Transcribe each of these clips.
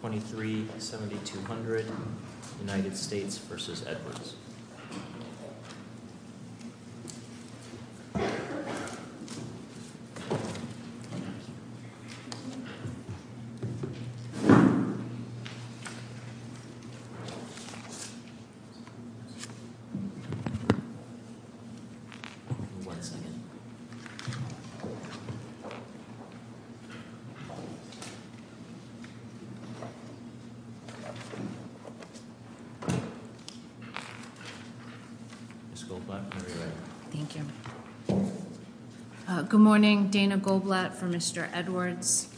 for 237200 United States v. Edwards. Ms. Goldblatt, are you ready? Thank you. Good morning, Dana Goldblatt for Mr. Edwards.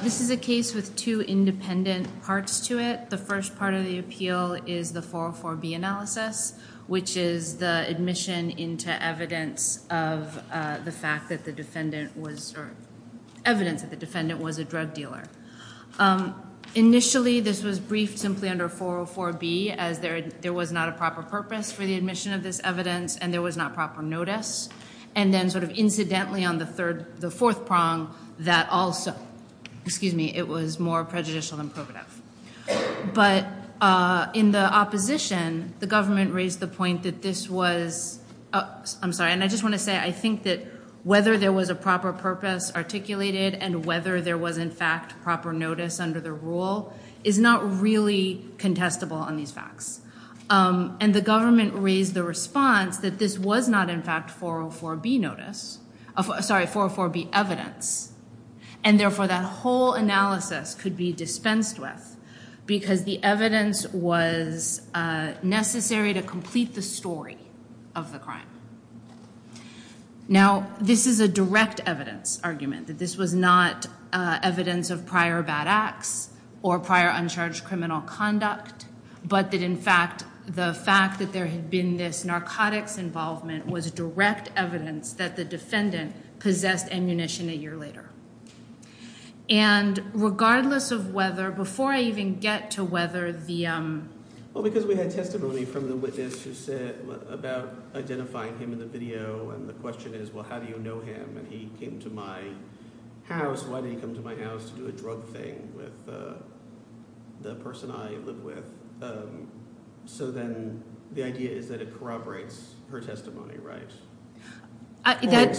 This is a case with two independent parts to it. The first part of the appeal is the 404B analysis, which is the admission into evidence of the fact that the defendant was, or evidence that the defendant was a drug dealer. Initially, this was briefed simply under 404B as there was not a proper purpose for the admission of this evidence and there was not proper notice. And then sort of incidentally on the fourth prong, that also, excuse me, it was more prejudicial than probative. But in the opposition, the government raised the point that this was, I'm sorry, and I just want to say I think that whether there was a proper purpose articulated and whether there was in fact proper notice under the rule is not really contestable on these facts. And the government raised the response that this was not in fact 404B notice, sorry, 404B evidence. And therefore, that whole analysis could be dispensed with because the evidence was necessary to complete the story of the crime. Now, this is a direct evidence argument, that this was not evidence of prior bad acts or prior uncharged criminal conduct, but that in fact the fact that there had been this narcotics involvement was direct evidence that the defendant possessed ammunition a year later. And regardless of whether – before I even get to whether the – Well, because we had testimony from the witness who said – about identifying him in the video, and the question is, well, how do you know him? And he came to my house. Why did he come to my house to do a drug thing with the person I live with? So then the idea is that it corroborates her testimony, right?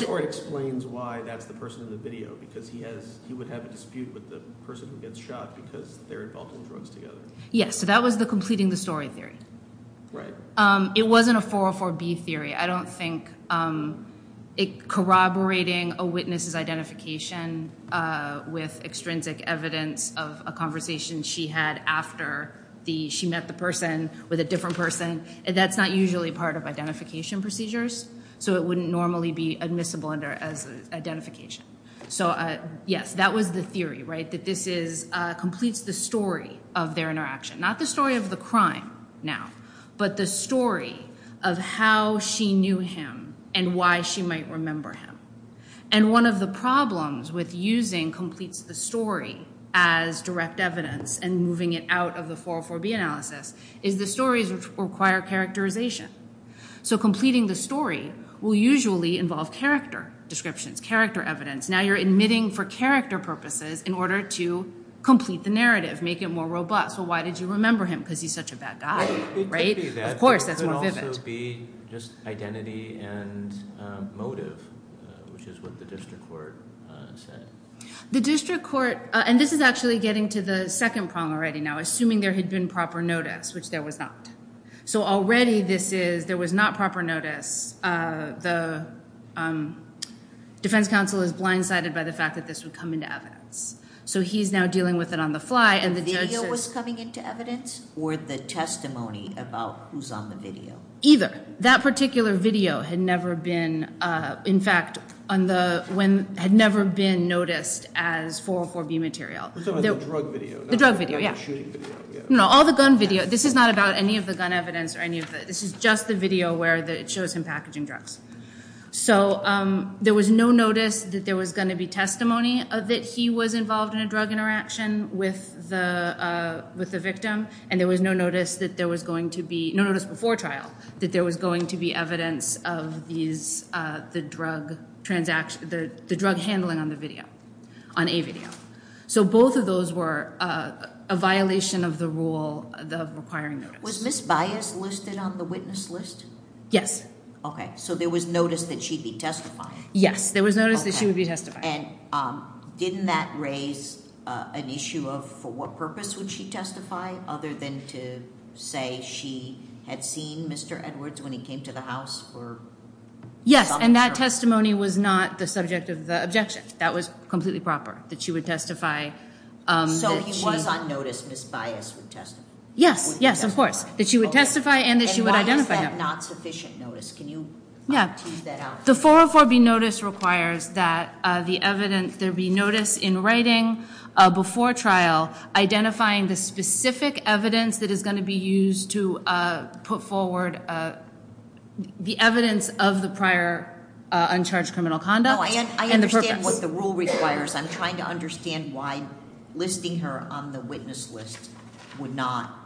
Or it explains why that's the person in the video because he has – he would have a dispute with the person who gets shot because they're involved in drugs together. Yes, so that was the completing the story theory. It wasn't a 404B theory. I don't think corroborating a witness's identification with extrinsic evidence of a conversation she had after the – she met the person with a different person, that's not usually part of identification procedures. So it wouldn't normally be admissible under – as identification. So, yes, that was the theory, right, that this is – completes the story of their interaction. Not the story of the crime now, but the story of how she knew him and why she might remember him. And one of the problems with using completes the story as direct evidence and moving it out of the 404B analysis is the stories require characterization. So completing the story will usually involve character descriptions, character evidence. Now you're admitting for character purposes in order to complete the narrative, make it more robust. Well, why did you remember him? Because he's such a bad guy, right? Of course, that's more vivid. It could also be just identity and motive, which is what the district court said. The district court – and this is actually getting to the second problem already now, assuming there had been proper notice, which there was not. So already this is – there was not proper notice. The defense counsel is blindsided by the fact that this would come into evidence. So he's now dealing with it on the fly and the judge says – The video was coming into evidence or the testimony about who's on the video? Either. That particular video had never been – in fact, on the – had never been noticed as 404B material. The drug video. The drug video, yeah. The shooting video, yeah. No, all the gun video. This is not about any of the gun evidence or any of the – this is just the video where it shows him packaging drugs. So there was no notice that there was going to be testimony that he was involved in a drug interaction with the victim. And there was no notice that there was going to be – no notice before trial that there was going to be evidence of these – the drug transaction – the drug handling on the video, on a video. So both of those were a violation of the rule of requiring notice. Was Ms. Bias listed on the witness list? Yes. Okay. So there was notice that she'd be testifying? Yes, there was notice that she would be testifying. And didn't that raise an issue of for what purpose would she testify other than to say she had seen Mr. Edwards when he came to the house or – Yes, and that testimony was not the subject of the objection. That was completely proper, that she would testify – So he was on notice, Ms. Bias would testify? Yes, yes, of course. That she would testify and that she would identify him. And why is that not sufficient notice? Can you tease that out? The 404B notice requires that the evidence – there be notice in writing before trial identifying the specific evidence that is going to be used to put forward the evidence of the prior uncharged criminal conduct. No, I understand what the rule requires. I'm trying to understand why listing her on the witness list would not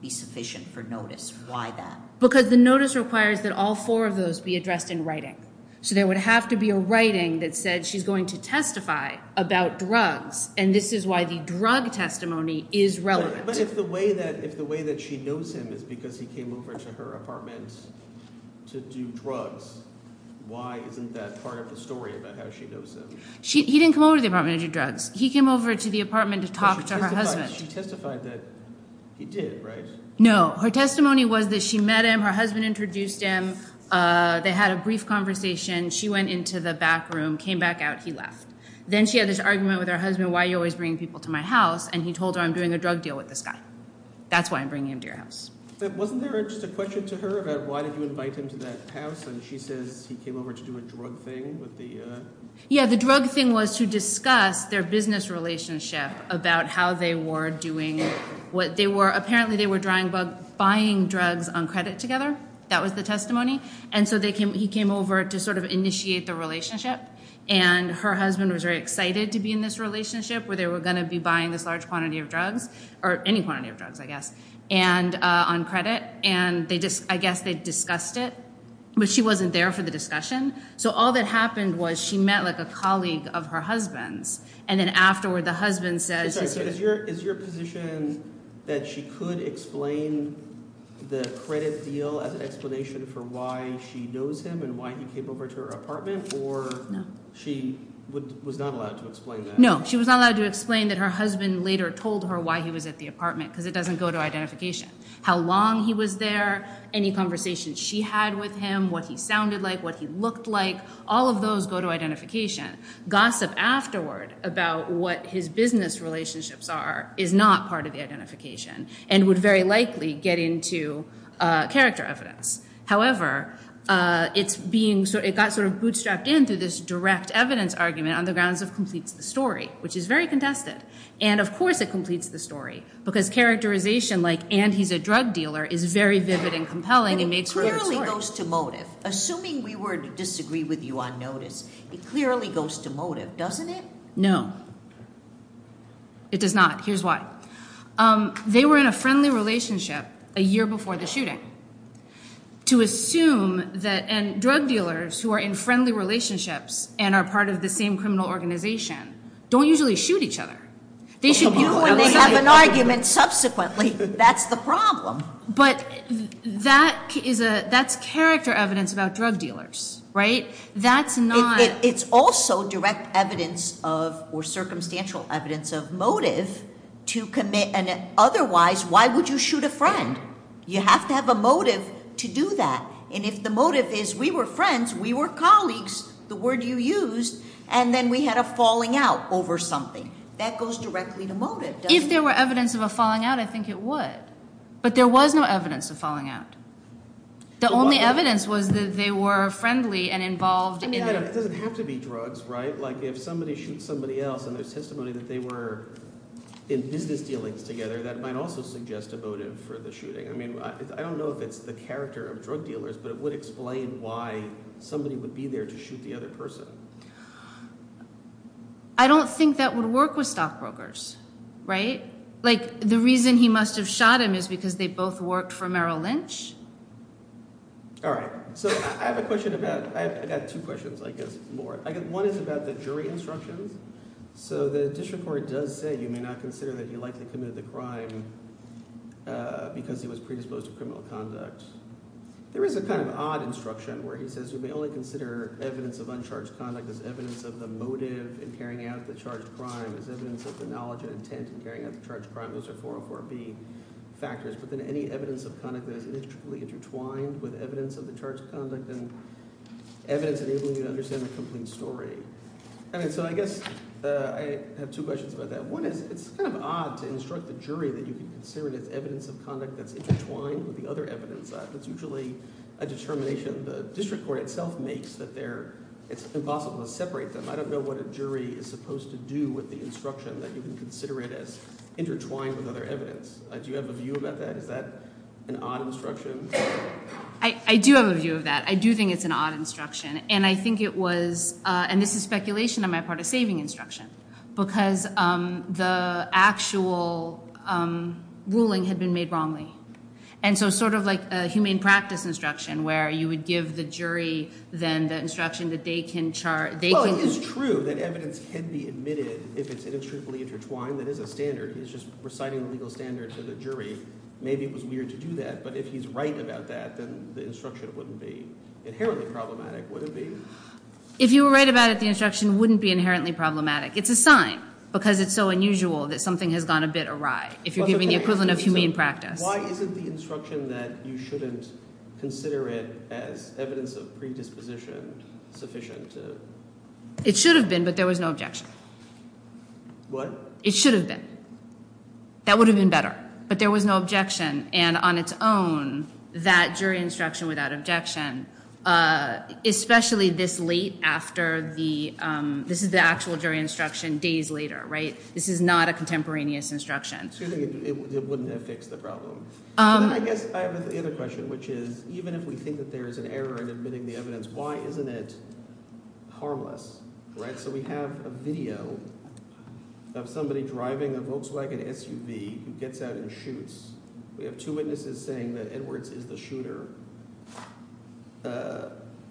be sufficient for notice. Why that? Because the notice requires that all four of those be addressed in writing. So there would have to be a writing that said she's going to testify about drugs, and this is why the drug testimony is relevant. But if the way that she knows him is because he came over to her apartment to do drugs, why isn't that part of the story about how she knows him? He didn't come over to the apartment to do drugs. He came over to the apartment to talk to her husband. But she testified that he did, right? No, her testimony was that she met him. Her husband introduced him. They had a brief conversation. She went into the back room, came back out. He left. Then she had this argument with her husband, why are you always bringing people to my house? And he told her, I'm doing a drug deal with this guy. That's why I'm bringing him to your house. Wasn't there just a question to her about why did you invite him to that house? And she says he came over to do a drug thing with the— Yeah, the drug thing was to discuss their business relationship about how they were doing what they were— apparently they were buying drugs on credit together. That was the testimony. And so he came over to sort of initiate the relationship. And her husband was very excited to be in this relationship where they were going to be buying this large quantity of drugs, or any quantity of drugs I guess, on credit. And they just—I guess they discussed it, but she wasn't there for the discussion. So all that happened was she met like a colleague of her husband's, and then afterward the husband says— I'm sorry. So is your position that she could explain the credit deal as an explanation for why she knows him and why he came over to her apartment or— No. She was not allowed to explain that? No, she was not allowed to explain that her husband later told her why he was at the apartment because it doesn't go to identification. How long he was there, any conversations she had with him, what he sounded like, what he looked like, all of those go to identification. Gossip afterward about what his business relationships are is not part of the identification and would very likely get into character evidence. However, it's being—it got sort of bootstrapped in through this direct evidence argument on the grounds of completes the story, which is very contested. And of course it completes the story because characterization like, and he's a drug dealer, is very vivid and compelling. And it clearly goes to motive. Assuming we were to disagree with you on notice, it clearly goes to motive, doesn't it? No. It does not. Here's why. They were in a friendly relationship a year before the shooting. To assume that—and drug dealers who are in friendly relationships and are part of the same criminal organization don't usually shoot each other. They shoot you when they have an argument subsequently. That's the problem. But that is a—that's character evidence about drug dealers, right? That's not— It's also direct evidence of—or circumstantial evidence of motive to commit. And otherwise, why would you shoot a friend? You have to have a motive to do that. And if the motive is we were friends, we were colleagues, the word you used, and then we had a falling out over something, that goes directly to motive, doesn't it? If there were evidence of a falling out, I think it would. But there was no evidence of falling out. The only evidence was that they were friendly and involved in— It doesn't have to be drugs, right? Like if somebody shoots somebody else and there's testimony that they were in business dealings together, that might also suggest a motive for the shooting. I mean I don't know if it's the character of drug dealers, but it would explain why somebody would be there to shoot the other person. I don't think that would work with stockbrokers, right? Like the reason he must have shot him is because they both worked for Merrill Lynch. All right, so I have a question about—I've got two questions, I guess, more. One is about the jury instructions. So the district court does say you may not consider that he likely committed the crime because he was predisposed to criminal conduct. There is a kind of odd instruction where he says you may only consider evidence of uncharged conduct as evidence of the motive in carrying out the charged crime, as evidence of the knowledge and intent in carrying out the charged crime. Those are 404B factors. But then any evidence of conduct that is inextricably intertwined with evidence of the charged conduct and evidence enabling you to understand the complete story. So I guess I have two questions about that. One is it's kind of odd to instruct the jury that you can consider it as evidence of conduct that's intertwined with the other evidence. That's usually a determination the district court itself makes that it's impossible to separate them. I don't know what a jury is supposed to do with the instruction that you can consider it as intertwined with other evidence. Do you have a view about that? Is that an odd instruction? I do have a view of that. I do think it's an odd instruction, and I think it was—and this is speculation on my part—a saving instruction. Because the actual ruling had been made wrongly. And so sort of like a humane practice instruction where you would give the jury then the instruction that they can— Well, it is true that evidence can be admitted if it's inextricably intertwined. That is a standard. He's just reciting the legal standard to the jury. Maybe it was weird to do that, but if he's right about that, then the instruction wouldn't be inherently problematic, would it be? If you were right about it, the instruction wouldn't be inherently problematic. It's a sign because it's so unusual that something has gone a bit awry if you're giving the equivalent of humane practice. Why isn't the instruction that you shouldn't consider it as evidence of predisposition sufficient to— It should have been, but there was no objection. What? It should have been. That would have been better, but there was no objection. And on its own, that jury instruction without objection, especially this late after the—this is the actual jury instruction days later. This is not a contemporaneous instruction. It wouldn't have fixed the problem. I guess I have another question, which is even if we think that there is an error in admitting the evidence, why isn't it harmless? So we have a video of somebody driving a Volkswagen SUV who gets out and shoots. We have two witnesses saying that Edwards is the shooter.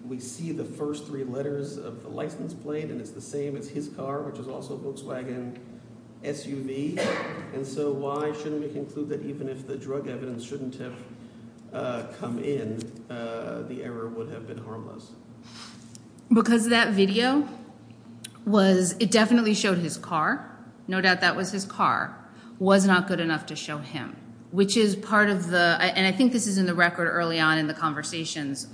We see the first three letters of the license plate, and it's the same. It's his car, which is also a Volkswagen SUV. And so why shouldn't we conclude that even if the drug evidence shouldn't have come in, the error would have been harmless? Because that video was—it definitely showed his car. No doubt that was his car. It was not good enough to show him, which is part of the—and I think this is in the record early on in the conversations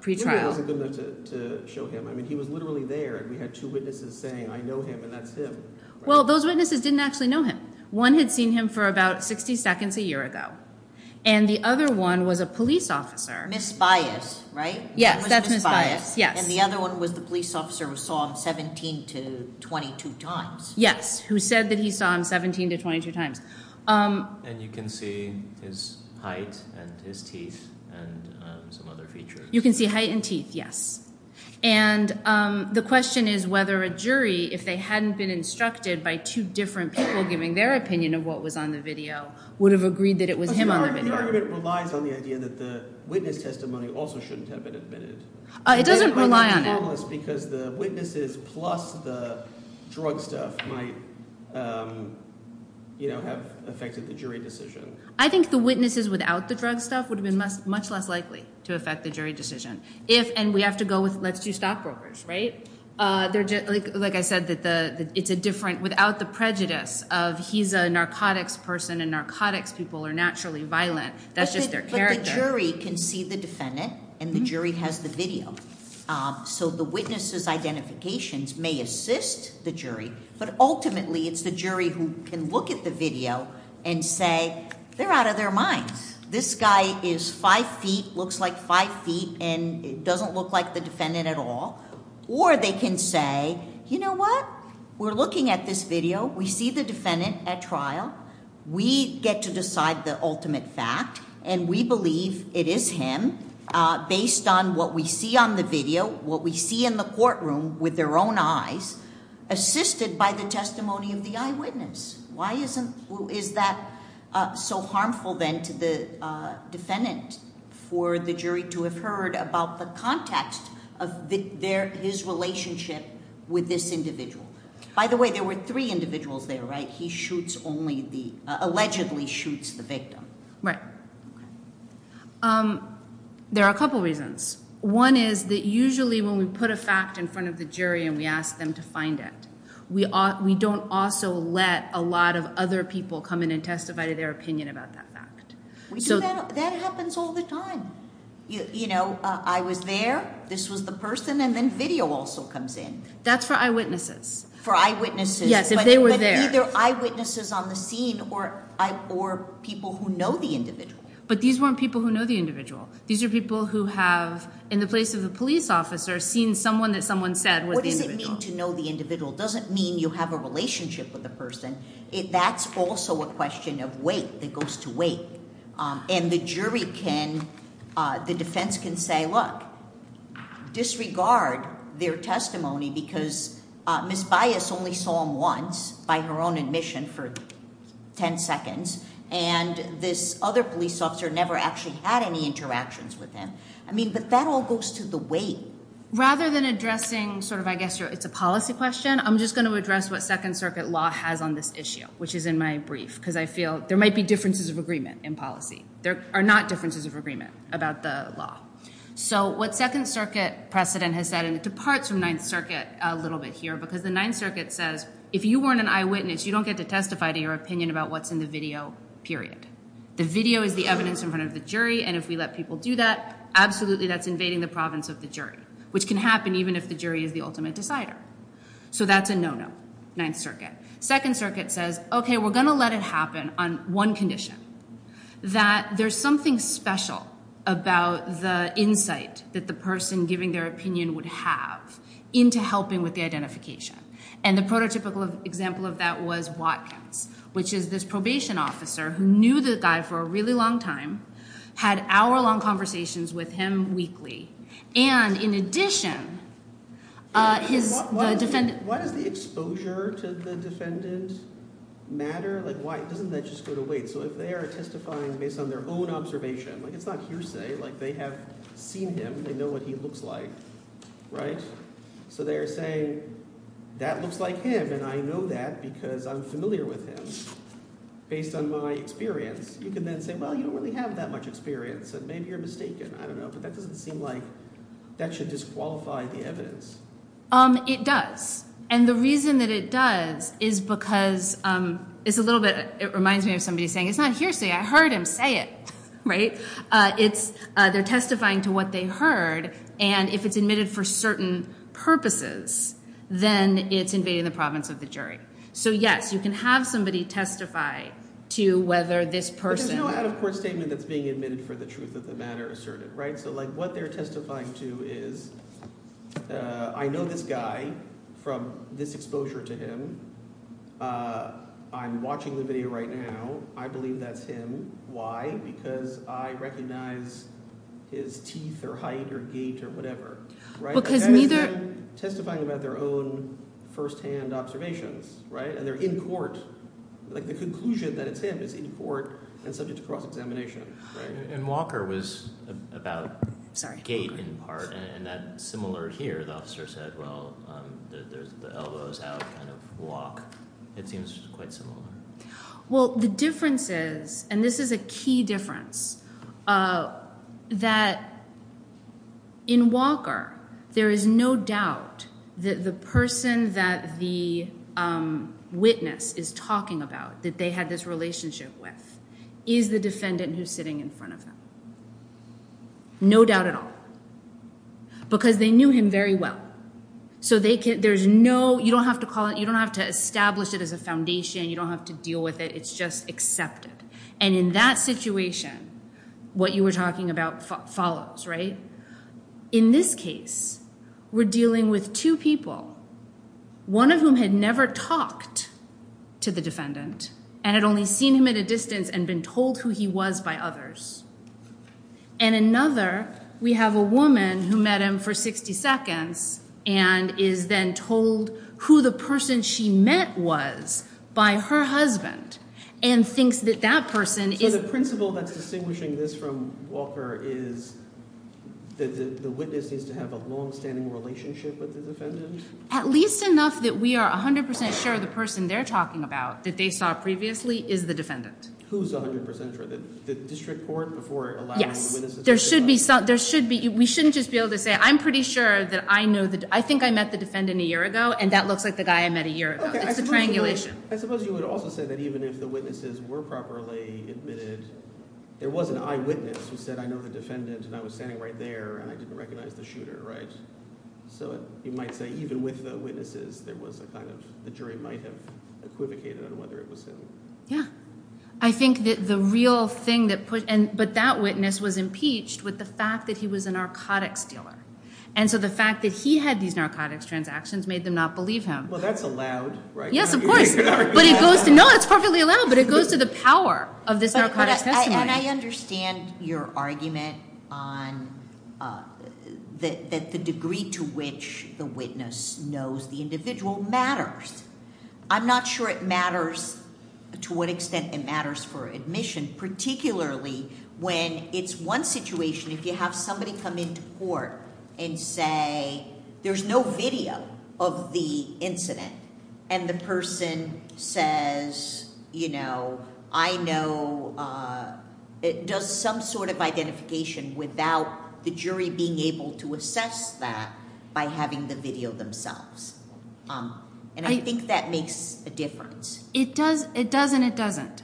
pre-trial. Maybe it wasn't good enough to show him. I mean he was literally there, and we had two witnesses saying, I know him, and that's him. Well, those witnesses didn't actually know him. One had seen him for about 60 seconds a year ago, and the other one was a police officer. Misbiased, right? Yes, that's misbiased, yes. And the other one was the police officer who saw him 17 to 22 times. Yes, who said that he saw him 17 to 22 times. And you can see his height and his teeth and some other features. You can see height and teeth, yes. And the question is whether a jury, if they hadn't been instructed by two different people giving their opinion of what was on the video, would have agreed that it was him on the video. The argument relies on the idea that the witness testimony also shouldn't have been admitted. It doesn't rely on it. Because the witnesses plus the drug stuff might have affected the jury decision. I think the witnesses without the drug stuff would have been much less likely to affect the jury decision. And we have to go with let's do stockbrokers, right? Like I said, it's a different, without the prejudice of he's a narcotics person and narcotics people are naturally violent. That's just their character. But the jury can see the defendant, and the jury has the video. So the witnesses' identifications may assist the jury, but ultimately it's the jury who can look at the video and say they're out of their minds. This guy is five feet, looks like five feet, and doesn't look like the defendant at all. Or they can say, you know what? We're looking at this video. We see the defendant at trial. We get to decide the ultimate fact, and we believe it is him based on what we see on the video, what we see in the courtroom with their own eyes, assisted by the testimony of the eyewitness. Why is that so harmful then to the defendant for the jury to have heard about the context of his relationship with this individual? By the way, there were three individuals there, right? He shoots only the, allegedly shoots the victim. Right. There are a couple reasons. One is that usually when we put a fact in front of the jury and we ask them to find it, we don't also let a lot of other people come in and testify to their opinion about that fact. That happens all the time. You know, I was there, this was the person, and then video also comes in. That's for eyewitnesses. For eyewitnesses. Yes, if they were there. But either eyewitnesses on the scene or people who know the individual. But these weren't people who know the individual. These are people who have, in the place of the police officer, seen someone that someone said was the individual. It doesn't mean you have a relationship with the person. That's also a question of weight. It goes to weight. And the jury can, the defense can say, look, disregard their testimony because Ms. Bias only saw him once, by her own admission, for ten seconds. And this other police officer never actually had any interactions with him. I mean, but that all goes to the weight. Rather than addressing sort of I guess it's a policy question, I'm just going to address what Second Circuit law has on this issue, which is in my brief, because I feel there might be differences of agreement in policy. There are not differences of agreement about the law. So what Second Circuit precedent has said, and it departs from Ninth Circuit a little bit here, because the Ninth Circuit says if you weren't an eyewitness, you don't get to testify to your opinion about what's in the video, period. The video is the evidence in front of the jury, and if we let people do that, absolutely that's invading the province of the jury, which can happen even if the jury is the ultimate decider. So that's a no-no, Ninth Circuit. Second Circuit says, okay, we're going to let it happen on one condition, that there's something special about the insight that the person giving their opinion would have into helping with the identification. And the prototypical example of that was Watkins, which is this probation officer who knew the guy for a really long time, had hour-long conversations with him weekly, and in addition his – Why does the exposure to the defendant matter? Like why – doesn't that just go to wait? So if they are testifying based on their own observation, like it's not hearsay. Like they have seen him. They know what he looks like, right? So they're saying that looks like him and I know that because I'm familiar with him based on my experience. You can then say, well, you don't really have that much experience and maybe you're mistaken. I don't know, but that doesn't seem like that should disqualify the evidence. It does, and the reason that it does is because it's a little bit – it reminds me of somebody saying it's not hearsay. I heard him say it, right? They're testifying to what they heard, and if it's admitted for certain purposes, then it's invading the province of the jury. So yes, you can have somebody testify to whether this person – But there's no out-of-court statement that's being admitted for the truth of the matter asserted, right? So like what they're testifying to is I know this guy from this exposure to him. I'm watching the video right now. I believe that's him. Why? Because I recognize his teeth or height or gait or whatever. Because neither – They're testifying about their own firsthand observations, right? And they're in court. Like the conclusion that it's him is in court and subject to cross-examination. And Walker was about gait in part, and that's similar here. The officer said, well, there's the elbows out kind of walk. It seems quite similar. Well, the difference is – and this is a key difference – that in Walker, there is no doubt that the person that the witness is talking about, that they had this relationship with, is the defendant who's sitting in front of him. No doubt at all. Because they knew him very well. So there's no – you don't have to call it – you don't have to establish it as a foundation. You don't have to deal with it. It's just accepted. And in that situation, what you were talking about follows, right? In this case, we're dealing with two people, one of whom had never talked to the defendant and had only seen him at a distance and been told who he was by others. And another, we have a woman who met him for 60 seconds and is then told who the person she met was by her husband and thinks that that person is – So the principle that's distinguishing this from Walker is that the witness needs to have a longstanding relationship with the defendant? At least enough that we are 100% sure the person they're talking about that they saw previously is the defendant. Who's 100% sure? Yes. There should be – we shouldn't just be able to say, I'm pretty sure that I know – I think I met the defendant a year ago, and that looks like the guy I met a year ago. It's a triangulation. I suppose you would also say that even if the witnesses were properly admitted, there was an eyewitness who said, I know the defendant, and I was standing right there, and I didn't recognize the shooter, right? So you might say even with the witnesses, there was a kind of – the jury might have equivocated on whether it was him. Yeah. I think that the real thing that – but that witness was impeached with the fact that he was a narcotics dealer, and so the fact that he had these narcotics transactions made them not believe him. Well, that's allowed, right? Yes, of course. But it goes to – no, it's perfectly allowed, but it goes to the power of this narcotics testimony. But I understand your argument on the degree to which the witness knows the individual matters. I'm not sure it matters to what extent it matters for admission, particularly when it's one situation. If you have somebody come into court and say there's no video of the incident, and the person says, you know, I know – does some sort of identification without the jury being able to assess that by having the video themselves. And I think that makes a difference. It does and it doesn't.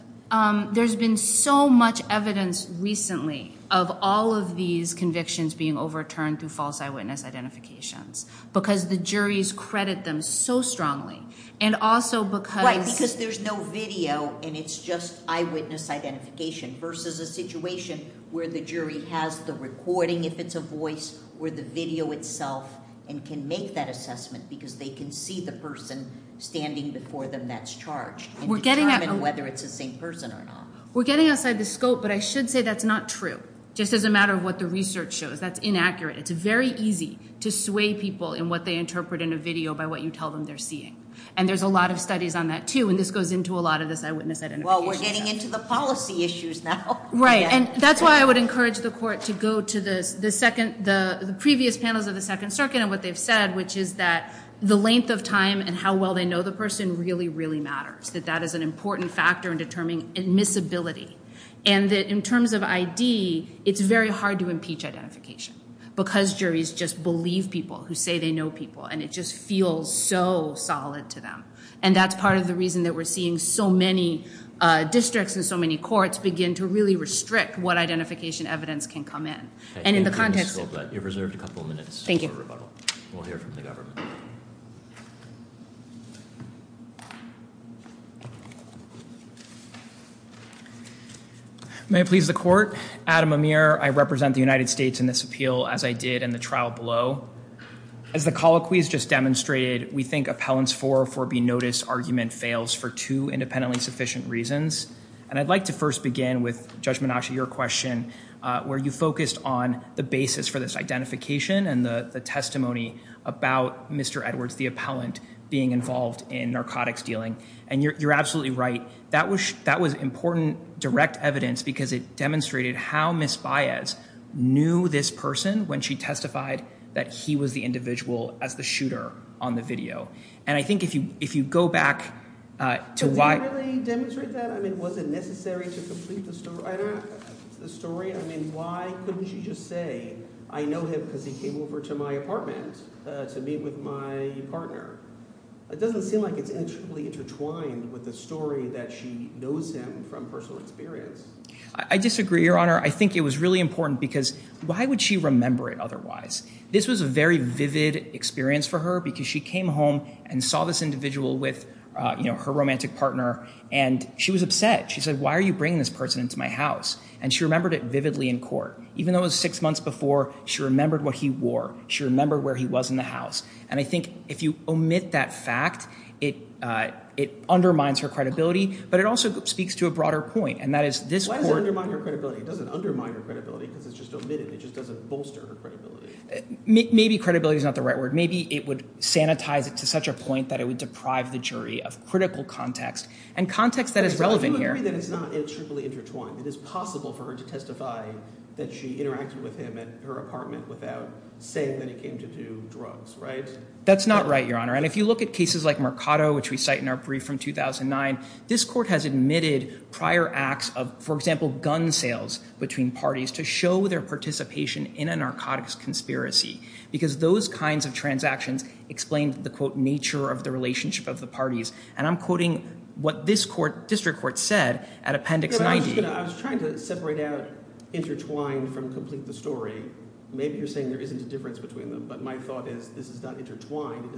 There's been so much evidence recently of all of these convictions being overturned through false eyewitness identifications because the juries credit them so strongly and also because – Right, because there's no video and it's just eyewitness identification versus a situation where the jury has the recording, if it's a voice, or the video itself and can make that assessment because they can see the person standing before them that's charged and determine whether it's the same person or not. We're getting outside the scope, but I should say that's not true, just as a matter of what the research shows. That's inaccurate. It's very easy to sway people in what they interpret in a video by what you tell them they're seeing. And there's a lot of studies on that, too, and this goes into a lot of this eyewitness identification stuff. Well, we're getting into the policy issues now. Right, and that's why I would encourage the court to go to the previous panels of the Second Circuit and what they've said, which is that the length of time and how well they know the person really, really matters, that that is an important factor in determining admissibility and that in terms of ID, it's very hard to impeach identification because juries just believe people who say they know people and it just feels so solid to them, and that's part of the reason that we're seeing so many districts and so many courts begin to really restrict what identification evidence can come in. And in the context of that, you've reserved a couple of minutes for rebuttal. We'll hear from the government. May it please the court, Adam Amir, I represent the United States in this appeal, as I did in the trial below. As the colloquy has just demonstrated, we think appellants for or for be noticed argument fails for two independently sufficient reasons. And I'd like to first begin with Judge Menashe, your question, where you focused on the basis for this identification and the testimony about Mr. Edwards, the appellant, being involved in narcotics dealing. And you're absolutely right. That was that was important direct evidence because it demonstrated how Miss Baez knew this person when she testified that he was the individual as the shooter on the video. And I think if you if you go back to why I really demonstrate that, I mean, was it necessary to complete the story? I mean, why couldn't you just say I know him because he came over to my apartment to meet with my partner? It doesn't seem like it's actually intertwined with the story that she knows him from personal experience. I disagree, Your Honor. I think it was really important because why would she remember it otherwise? This was a very vivid experience for her because she came home and saw this individual with her romantic partner and she was upset. She said, why are you bringing this person into my house? And she remembered it vividly in court, even though it was six months before she remembered what he wore. She remember where he was in the house. And I think if you omit that fact, it it undermines her credibility. But it also speaks to a broader point, and that is this. Why does it undermine her credibility? It doesn't undermine her credibility because it's just omitted. It just doesn't bolster her credibility. Maybe credibility is not the right word. Maybe it would sanitize it to such a point that it would deprive the jury of critical context and context that is relevant here. Do you agree that it's not strictly intertwined? It is possible for her to testify that she interacted with him at her apartment without saying that he came to do drugs, right? That's not right, Your Honor. And if you look at cases like Mercado, which we cite in our brief from 2009, this court has admitted prior acts of, for example, gun sales between parties to show their participation in a narcotics conspiracy. Because those kinds of transactions explain the, quote, nature of the relationship of the parties. And I'm quoting what this court, district court, said at Appendix 90. I was trying to separate out intertwined from complete the story. Maybe you're saying there isn't a difference between them, but my thought is this is not intertwined.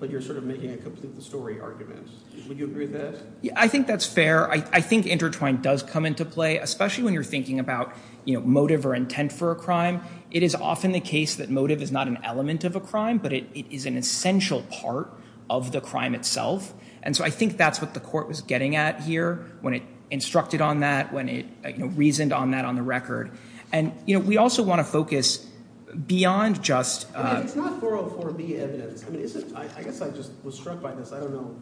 But you're sort of making a complete the story argument. Would you agree with that? I think that's fair. I think intertwined does come into play, especially when you're thinking about motive or intent for a crime. It is often the case that motive is not an element of a crime, but it is an essential part of the crime itself. And so I think that's what the court was getting at here when it instructed on that, when it reasoned on that on the record. And, you know, we also want to focus beyond just... It's not 404B evidence. I mean, I guess I just was struck by this. I don't know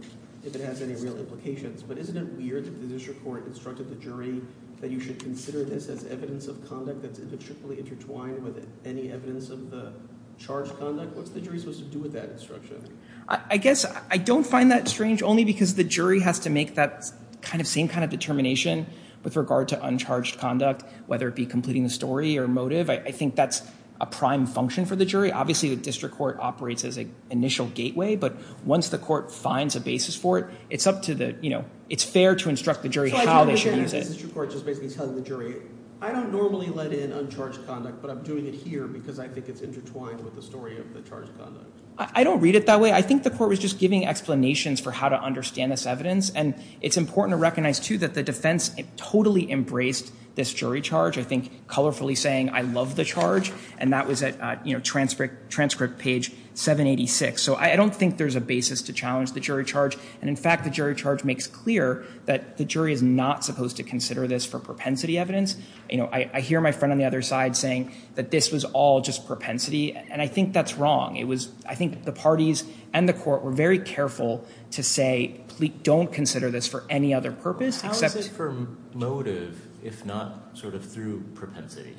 if it has any real implications. But isn't it weird that the district court instructed the jury that you should consider this as evidence of conduct that's intricately intertwined with any evidence of the charged conduct? What's the jury supposed to do with that instruction? I guess I don't find that strange only because the jury has to make that kind of same kind of determination with regard to uncharged conduct, whether it be completing the story or motive. I think that's a prime function for the jury. Obviously, the district court operates as an initial gateway. But once the court finds a basis for it, it's up to the, you know, it's fair to instruct the jury how they should use it. So the district court is basically telling the jury, I don't normally let in uncharged conduct, but I'm doing it here because I think it's intertwined with the story of the charged conduct. I don't read it that way. I think the court was just giving explanations for how to understand this evidence. And it's important to recognize, too, that the defense totally embraced this jury charge, I think, colorfully saying, I love the charge. And that was at, you know, transcript page 786. So I don't think there's a basis to challenge the jury charge. And in fact, the jury charge makes clear that the jury is not supposed to consider this for propensity evidence. You know, I hear my friend on the other side saying that this was all just propensity. And I think that's wrong. It was, I think the parties and the court were very careful to say, please don't consider this for any other purpose. How is it for motive, if not sort of through propensity?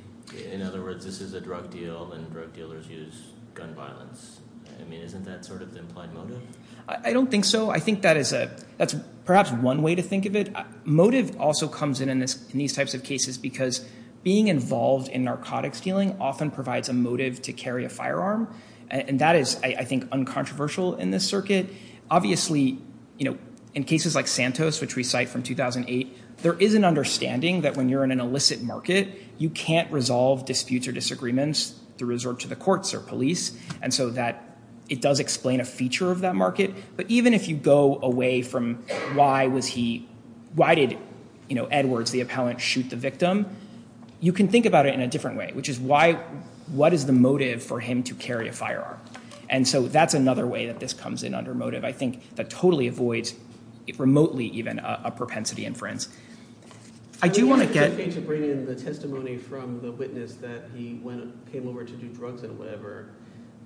In other words, this is a drug deal, and drug dealers use gun violence. I mean, isn't that sort of the implied motive? I don't think so. I think that is a, that's perhaps one way to think of it. Motive also comes in in these types of cases because being involved in narcotics dealing often provides a motive to carry a firearm. And that is, I think, uncontroversial in this circuit. Obviously, you know, in cases like Santos, which we cite from 2008, there is an understanding that when you're in an illicit market, you can't resolve disputes or disagreements through resort to the courts or police. And so that it does explain a feature of that market. But even if you go away from why was he, why did Edwards, the appellant, shoot the victim? You can think about it in a different way, which is why, what is the motive for him to carry a firearm? And so that's another way that this comes in under motive. I think that totally avoids, remotely even, a propensity inference. I do want to get- To bring in the testimony from the witness that he came over to do drugs and whatever,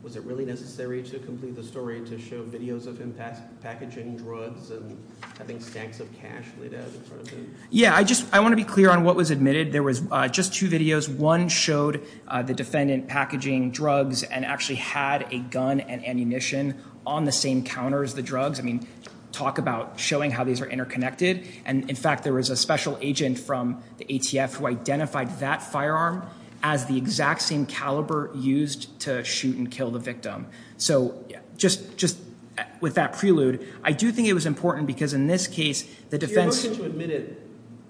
was it really necessary to complete the story to show videos of him packaging drugs and having stacks of cash laid out in front of him? Yeah, I just, I want to be clear on what was admitted. There was just two videos. One showed the defendant packaging drugs and actually had a gun and ammunition on the same counter as the drugs. I mean, talk about showing how these are interconnected. And, in fact, there was a special agent from the ATF who identified that firearm as the exact same caliber used to shoot and kill the victim. So, just with that prelude, I do think it was important because in this case, the defense- You're looking to admit it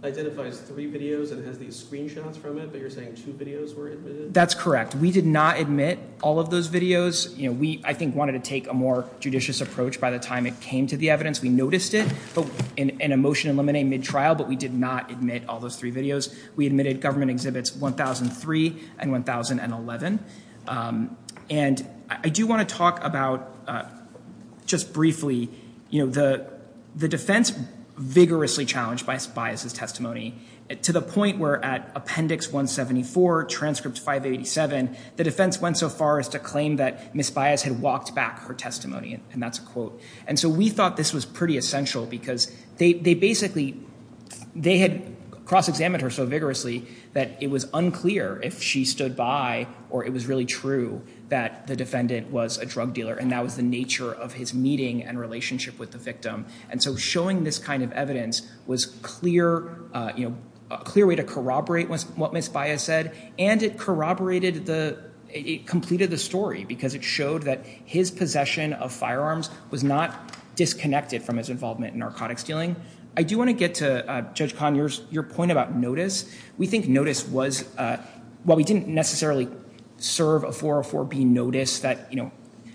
identifies three videos and has these screenshots from it, but you're saying two videos were admitted? That's correct. We did not admit all of those videos. We, I think, wanted to take a more judicious approach by the time it came to the evidence. We noticed it in a motion in limine, mid-trial, but we did not admit all those three videos. We admitted government exhibits 1003 and 1011. And I do want to talk about, just briefly, the defense vigorously challenged by Bias' testimony to the point where, at Appendix 174, Transcript 587, the defense went so far as to claim that Ms. Bias had walked back her testimony, and that's a quote. And so we thought this was pretty essential because they basically- They had cross-examined her so vigorously that it was unclear if she stood by or it was really true that the defendant was a drug dealer, and that was the nature of his meeting and relationship with the victim. And so showing this kind of evidence was a clear way to corroborate what Ms. Bias said, and it completed the story because it showed that his possession of firearms was not disconnected from his involvement in narcotics dealing. I do want to get to, Judge Kahn, your point about notice. We think notice was- While we didn't necessarily serve a 404B notice that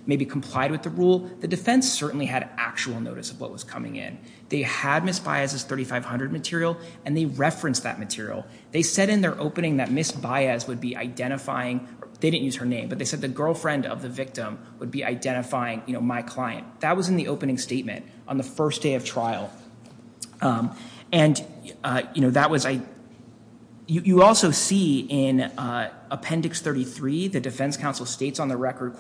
maybe complied with the rule, the defense certainly had actual notice of what was coming in. They had Ms. Bias' 3500 material, and they referenced that material. They said in their opening that Ms. Bias would be identifying- They didn't use her name, but they said the girlfriend of the victim would be identifying my client. That was in the opening statement on the first day of trial. And that was- You also see in Appendix 33, the defense counsel states on the record,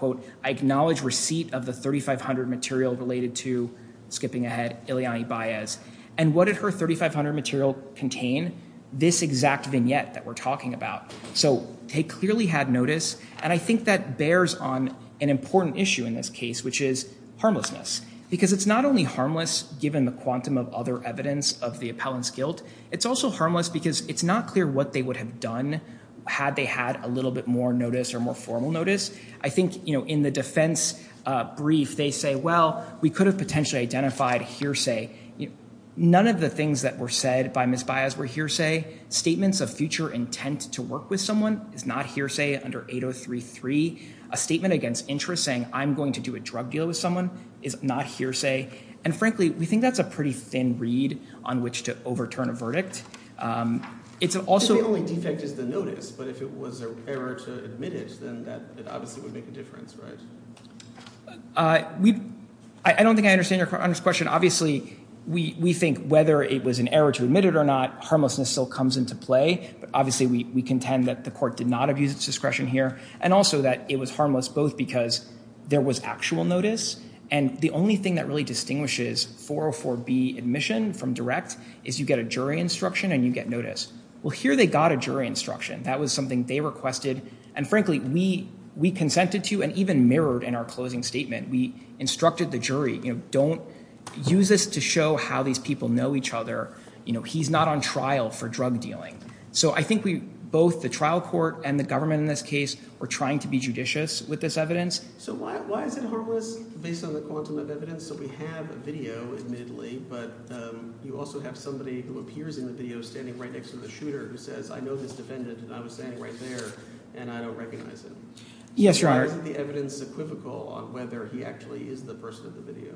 I acknowledge receipt of the 3500 material related to, skipping ahead, Ileani Bias. And what did her 3500 material contain? This exact vignette that we're talking about. So they clearly had notice, and I think that bears on an important issue in this case, which is harmlessness, because it's not only harmless given the quantum of other evidence of the appellant's guilt. It's also harmless because it's not clear what they would have done had they had a little bit more notice or more formal notice. I think in the defense brief, they say, well, we could have potentially identified hearsay. None of the things that were said by Ms. Bias were hearsay. Statements of future intent to work with someone is not hearsay under 8033. A statement against interest saying, I'm going to do a drug deal with someone is not hearsay. And frankly, we think that's a pretty thin reed on which to overturn a verdict. It's also- The only defect is the notice, but if it was an error to admit it, then that obviously would make a difference, right? I don't think I understand your question. Obviously, we think whether it was an error to admit it or not, harmlessness still comes into play. But obviously, we contend that the court did not abuse its discretion here and also that it was harmless both because there was actual notice. And the only thing that really distinguishes 404B admission from direct is you get a jury instruction and you get notice. Well, here they got a jury instruction. That was something they requested. And frankly, we consented to and even mirrored in our closing statement. We instructed the jury, don't use this to show how these people know each other. He's not on trial for drug dealing. So I think both the trial court and the government in this case were trying to be judicious with this evidence. So why is it harmless based on the quantum of evidence? So we have a video, admittedly, but you also have somebody who appears in the video standing right next to the shooter who says, I know this defendant, and I was standing right there, and I don't recognize him. Yes, Your Honor. So why isn't the evidence equivocal on whether he actually is the person in the video?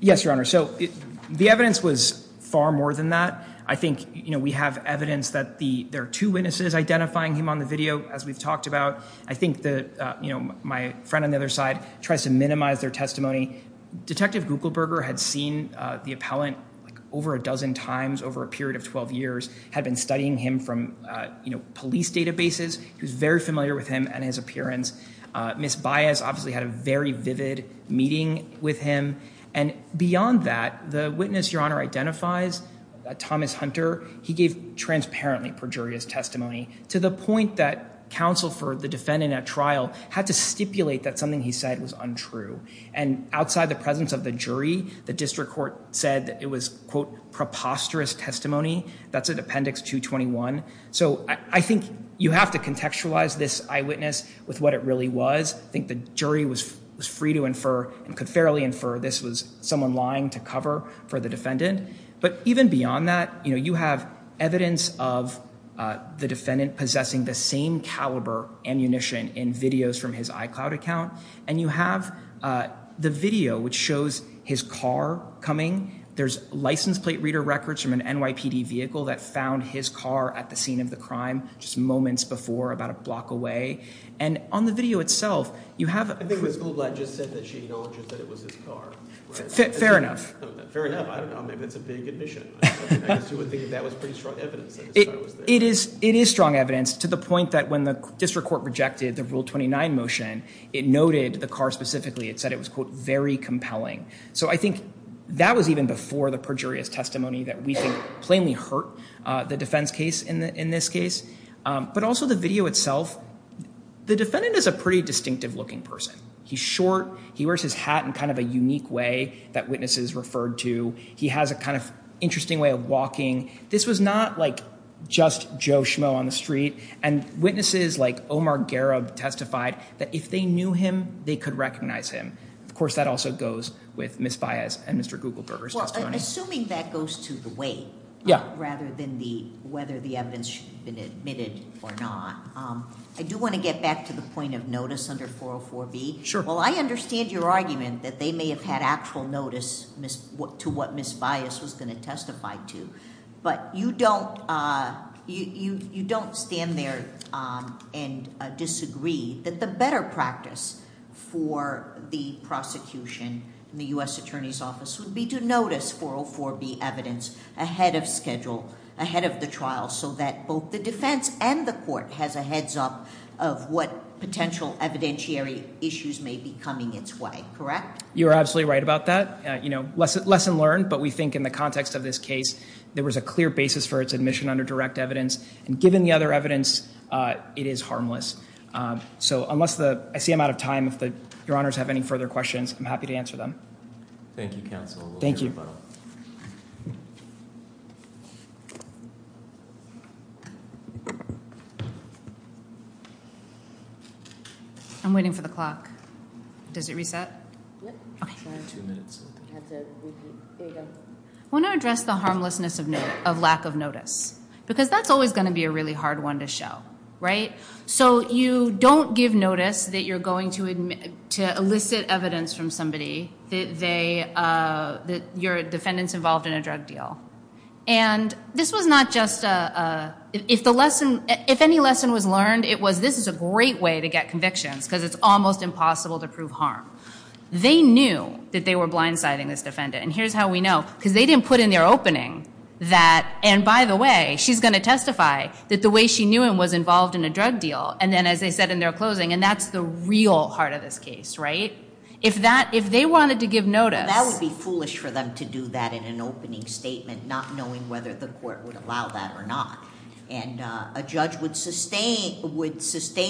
Yes, Your Honor. So the evidence was far more than that. I think we have evidence that there are two witnesses identifying him on the video, as we've talked about. I think my friend on the other side tries to minimize their testimony. Detective Gugelberger had seen the appellant over a dozen times over a period of 12 years, had been studying him from police databases. He was very familiar with him and his appearance. Ms. Baez obviously had a very vivid meeting with him. And beyond that, the witness, Your Honor, identifies Thomas Hunter. He gave transparently perjurious testimony to the point that counsel for the defendant at trial had to stipulate that something he said was untrue. And outside the presence of the jury, the district court said that it was, quote, preposterous testimony. That's in Appendix 221. So I think you have to contextualize this eyewitness with what it really was. I think the jury was free to infer and could fairly infer this was someone lying to cover for the defendant. But even beyond that, you have evidence of the defendant possessing the same caliber ammunition in videos from his iCloud account, and you have the video which shows his car coming. There's license plate reader records from an NYPD vehicle that found his car at the scene of the crime just moments before, about a block away. And on the video itself, you have... I think Ms. Goldblatt just said that she acknowledges that it was his car. Fair enough. Fair enough. I don't know. Maybe that's a big admission. I guess you would think that was pretty strong evidence that his car was there. It is strong evidence to the point that when the district court rejected the Rule 29 motion, it noted the car specifically. It said it was, quote, very compelling. So I think that was even before the perjurious testimony that we think plainly hurt the defense case in this case. But also the video itself, the defendant is a pretty distinctive-looking person. He's short. He wears his hat in kind of a unique way that witnesses referred to. He has a kind of interesting way of walking. This was not, like, just Joe Schmo on the street. And witnesses like Omar Garab testified that if they knew him, they could recognize him. Of course, that also goes with Ms. Baez and Mr. Gugelberger's testimony. Well, assuming that goes to the weight rather than whether the evidence should have been admitted or not, I do want to get back to the point of notice under 404B. Sure. Well, I understand your argument that they may have had actual notice to what Ms. Baez was going to testify to. But you don't stand there and disagree that the better practice for the prosecution in the U.S. Attorney's Office would be to notice 404B evidence ahead of schedule, ahead of the trial, so that both the defense and the court has a heads-up of what potential evidentiary issues may be coming its way, correct? You are absolutely right about that. Lesson learned, but we think in the context of this case, there was a clear basis for its admission under direct evidence. And given the other evidence, it is harmless. I see I'm out of time. If Your Honors have any further questions, I'm happy to answer them. Thank you, counsel. Thank you. I'm waiting for the clock. Does it reset? Two minutes. Here we go. I want to address the harmlessness of lack of notice, because that's always going to be a really hard one to show, right? So you don't give notice that you're going to elicit evidence from somebody that your defendant's involved in a drug deal. And this was not just a – if any lesson was learned, it was this is a great way to get convictions, because it's almost impossible to prove harm. They knew that they were blindsiding this defendant, and here's how we know. Because they didn't put in their opening that, and by the way, she's going to testify that the way she knew him was involved in a drug deal. And then as they said in their closing, and that's the real heart of this case, right? If they wanted to give notice. Well, that would be foolish for them to do that in an opening statement, not knowing whether the court would allow that or not. And a judge would sustain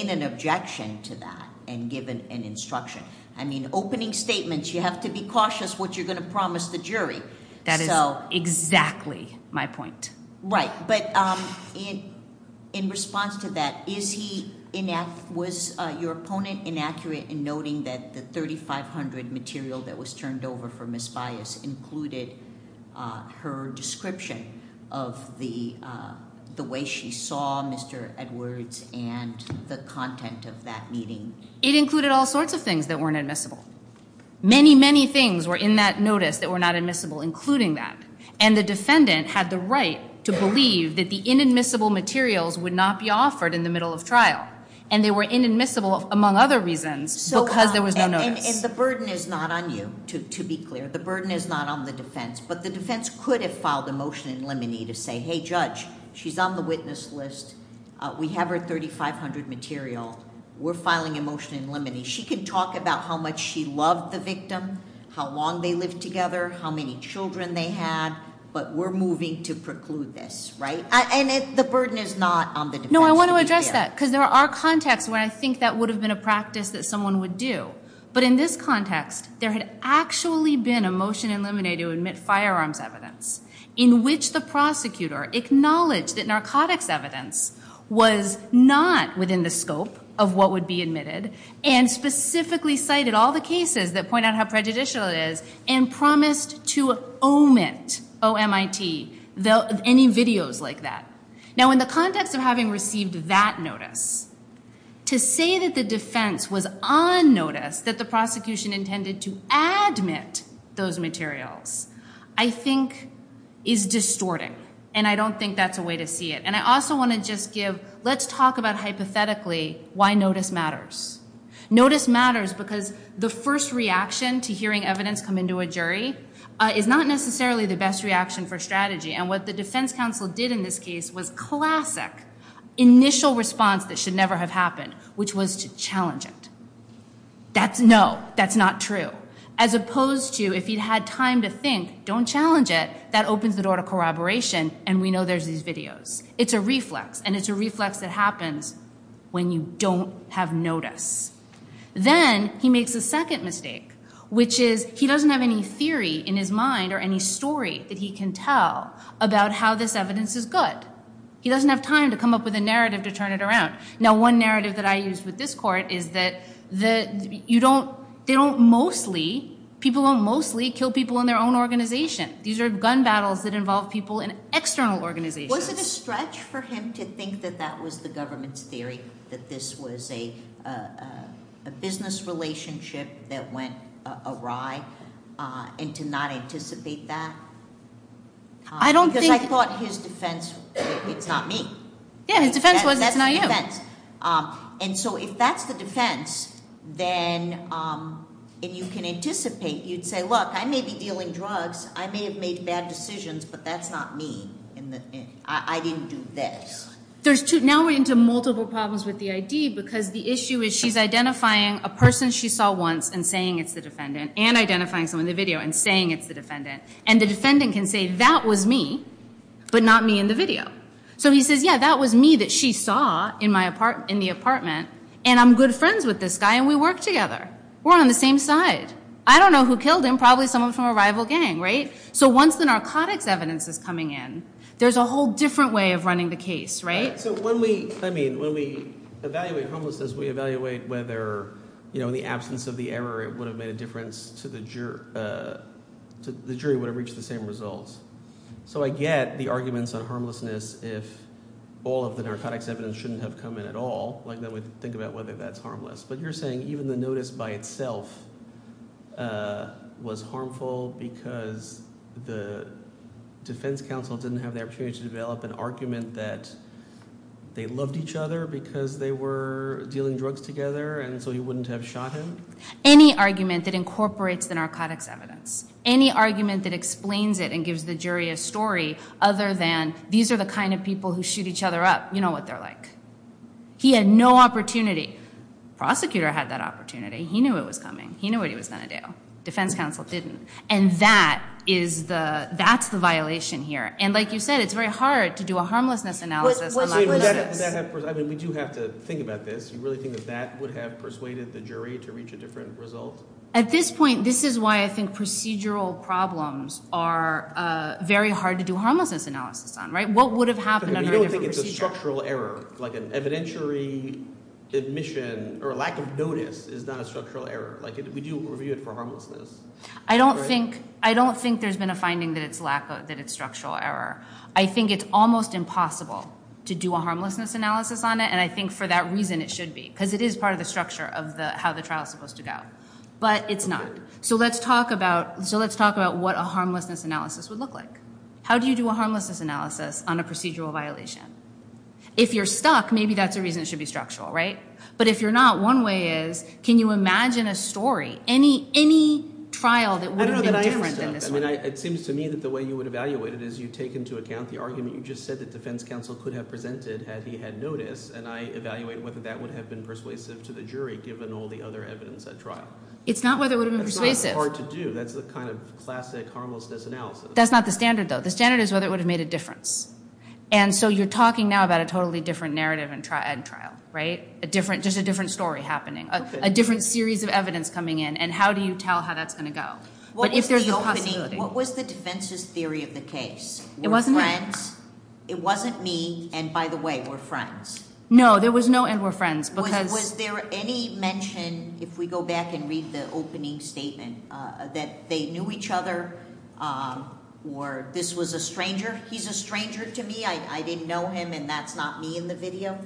an objection to that and give an instruction. I mean, opening statements, you have to be cautious what you're going to promise the jury. That is exactly my point. Right. But in response to that, was your opponent inaccurate in noting that the 3500 material that was turned in, the way she saw Mr. Edwards and the content of that meeting? It included all sorts of things that weren't admissible. Many, many things were in that notice that were not admissible, including that. And the defendant had the right to believe that the inadmissible materials would not be offered in the middle of trial. And they were inadmissible, among other reasons, because there was no notice. And the burden is not on you, to be clear. The burden is not on the defense. But the defense could have filed a motion in limine to say, hey, judge, she's on the witness list. We have her 3500 material. We're filing a motion in limine. She can talk about how much she loved the victim, how long they lived together, how many children they had. But we're moving to preclude this. Right? And the burden is not on the defense to be clear. No, I want to address that, because there are contexts where I think that would have been a practice that someone would do. But in this context, there had actually been a motion in limine to admit firearms evidence, in which the prosecutor acknowledged that narcotics evidence was not within the scope of what would be admitted, and specifically cited all the cases that point out how prejudicial it is, and promised to omit, O-M-I-T, any videos like that. Now, in the context of having received that notice, to say that the defense was on notice, that the prosecution intended to admit those materials, I think is distorting. And I don't think that's a way to see it. And I also want to just give, let's talk about hypothetically why notice matters. Notice matters because the first reaction to hearing evidence come into a jury is not necessarily the best reaction for strategy. And what the defense counsel did in this case was classic, initial response that should never have happened, which was to challenge it. No, that's not true. As opposed to, if he'd had time to think, don't challenge it, that opens the door to corroboration, and we know there's these videos. It's a reflex, and it's a reflex that happens when you don't have notice. Then he makes a second mistake, which is he doesn't have any theory in his mind or any story that he can tell about how this evidence is good. He doesn't have time to come up with a narrative to turn it around. Now, one narrative that I use with this court is that they don't mostly, people don't mostly kill people in their own organization. These are gun battles that involve people in external organizations. Was it a stretch for him to think that that was the government's theory, that this was a business relationship that went awry, and to not anticipate that? Because I thought his defense, it's not me. Yeah, his defense was it's not you. If that's the defense, then you can anticipate. You'd say, look, I may be dealing drugs. I may have made bad decisions, but that's not me. I didn't do this. Now we're into multiple problems with the ID, because the issue is she's identifying a person she saw once and saying it's the defendant, and identifying someone in the video and saying it's the defendant. The defendant can say, that was me, but not me in the video. So he says, yeah, that was me that she saw in the apartment, and I'm good friends with this guy, and we work together. We're on the same side. I don't know who killed him. Probably someone from a rival gang, right? So once the narcotics evidence is coming in, there's a whole different way of running the case, right? So when we evaluate homelessness, we evaluate whether in the absence of the error it would have made a difference to the jury would have reached the same results. So I get the arguments on harmlessness if all of the narcotics evidence shouldn't have come in at all. Then we think about whether that's harmless. But you're saying even the notice by itself was harmful because the defense counsel didn't have the opportunity to develop an argument that they loved each other because they were dealing drugs together and so you wouldn't have shot him? Any argument that incorporates the narcotics evidence, any argument that explains it and gives the jury a story other than these are the kind of people who shoot each other up, you know what they're like. He had no opportunity. Prosecutor had that opportunity. He knew it was coming. He knew what he was going to do. Defense counsel didn't. And that's the violation here. And like you said, it's very hard to do a harmlessness analysis on that basis. We do have to think about this. Do you really think that that would have persuaded the jury to reach a different result? At this point, this is why I think procedural problems are very hard to do a harmlessness analysis on. What would have happened under a different procedure? You don't think it's a structural error, like an evidentiary admission or a lack of notice is not a structural error. We do review it for harmlessness. I don't think there's been a finding that it's structural error. I think it's almost impossible to do a harmlessness analysis on it, and I think for that reason it should be because it is part of the structure of how the trial is supposed to go. But it's not. So let's talk about what a harmlessness analysis would look like. How do you do a harmlessness analysis on a procedural violation? If you're stuck, maybe that's a reason it should be structural, right? But if you're not, one way is can you imagine a story, any trial that would have been different than this one? It seems to me that the way you would evaluate it is you take into account the argument you just said that defense counsel could have presented had he had notice, and I evaluate whether that would have been persuasive to the jury given all the other evidence at trial. It's not whether it would have been persuasive. That's not hard to do. That's the kind of classic harmlessness analysis. That's not the standard, though. The standard is whether it would have made a difference. And so you're talking now about a totally different narrative at trial, right? Just a different story happening, a different series of evidence coming in, and how do you tell how that's going to go? What was the defense's theory of the case? It wasn't me, and by the way, we're friends. No, there was no and we're friends. Was there any mention, if we go back and read the opening statement, that they knew each other or this was a stranger? He's a stranger to me. I didn't know him, and that's not me in the video.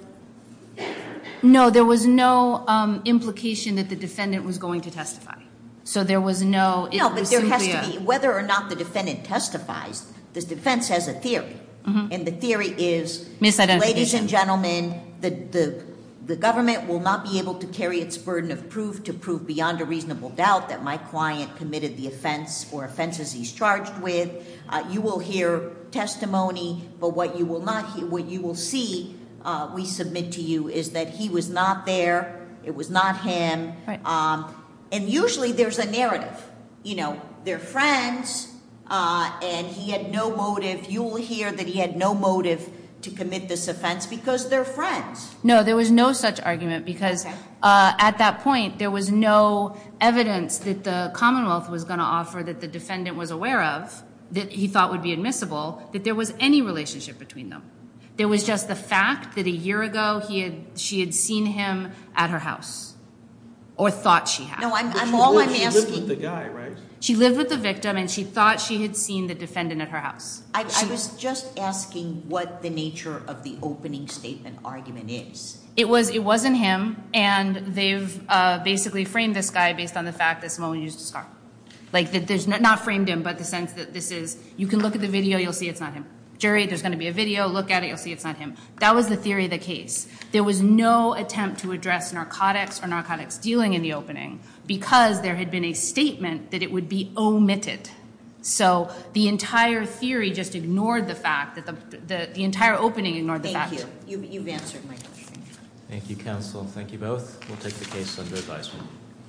No, there was no implication that the defendant was going to testify. So there was no. No, but there has to be. Whether or not the defendant testifies, this defense has a theory, and the theory is, ladies and gentlemen, the government will not be able to carry its burden of proof to prove beyond a reasonable doubt that my client committed the offense or offenses he's charged with. You will hear testimony, but what you will see we submit to you is that he was not there. It was not him. And usually there's a narrative. They're friends, and he had no motive. You will hear that he had no motive to commit this offense because they're friends. No, there was no such argument because at that point there was no evidence that the Commonwealth was going to offer that the defendant was aware of that he thought would be admissible, that there was any relationship between them. There was just the fact that a year ago she had seen him at her house or thought she had. No, I'm all I'm asking. She lived with the guy, right? She lived with the victim, and she thought she had seen the defendant at her house. I was just asking what the nature of the opening statement argument is. It wasn't him, and they've basically framed this guy based on the fact that Simone used a scarf. Like there's not framed him, but the sense that this is, you can look at the video, you'll see it's not him. Jury, there's going to be a video. Look at it, you'll see it's not him. That was the theory of the case. There was no attempt to address narcotics or narcotics dealing in the opening because there had been a statement that it would be omitted. So the entire theory just ignored the fact, the entire opening ignored the fact. You've answered my question. Thank you, counsel. Thank you both. We'll take the case under advisement.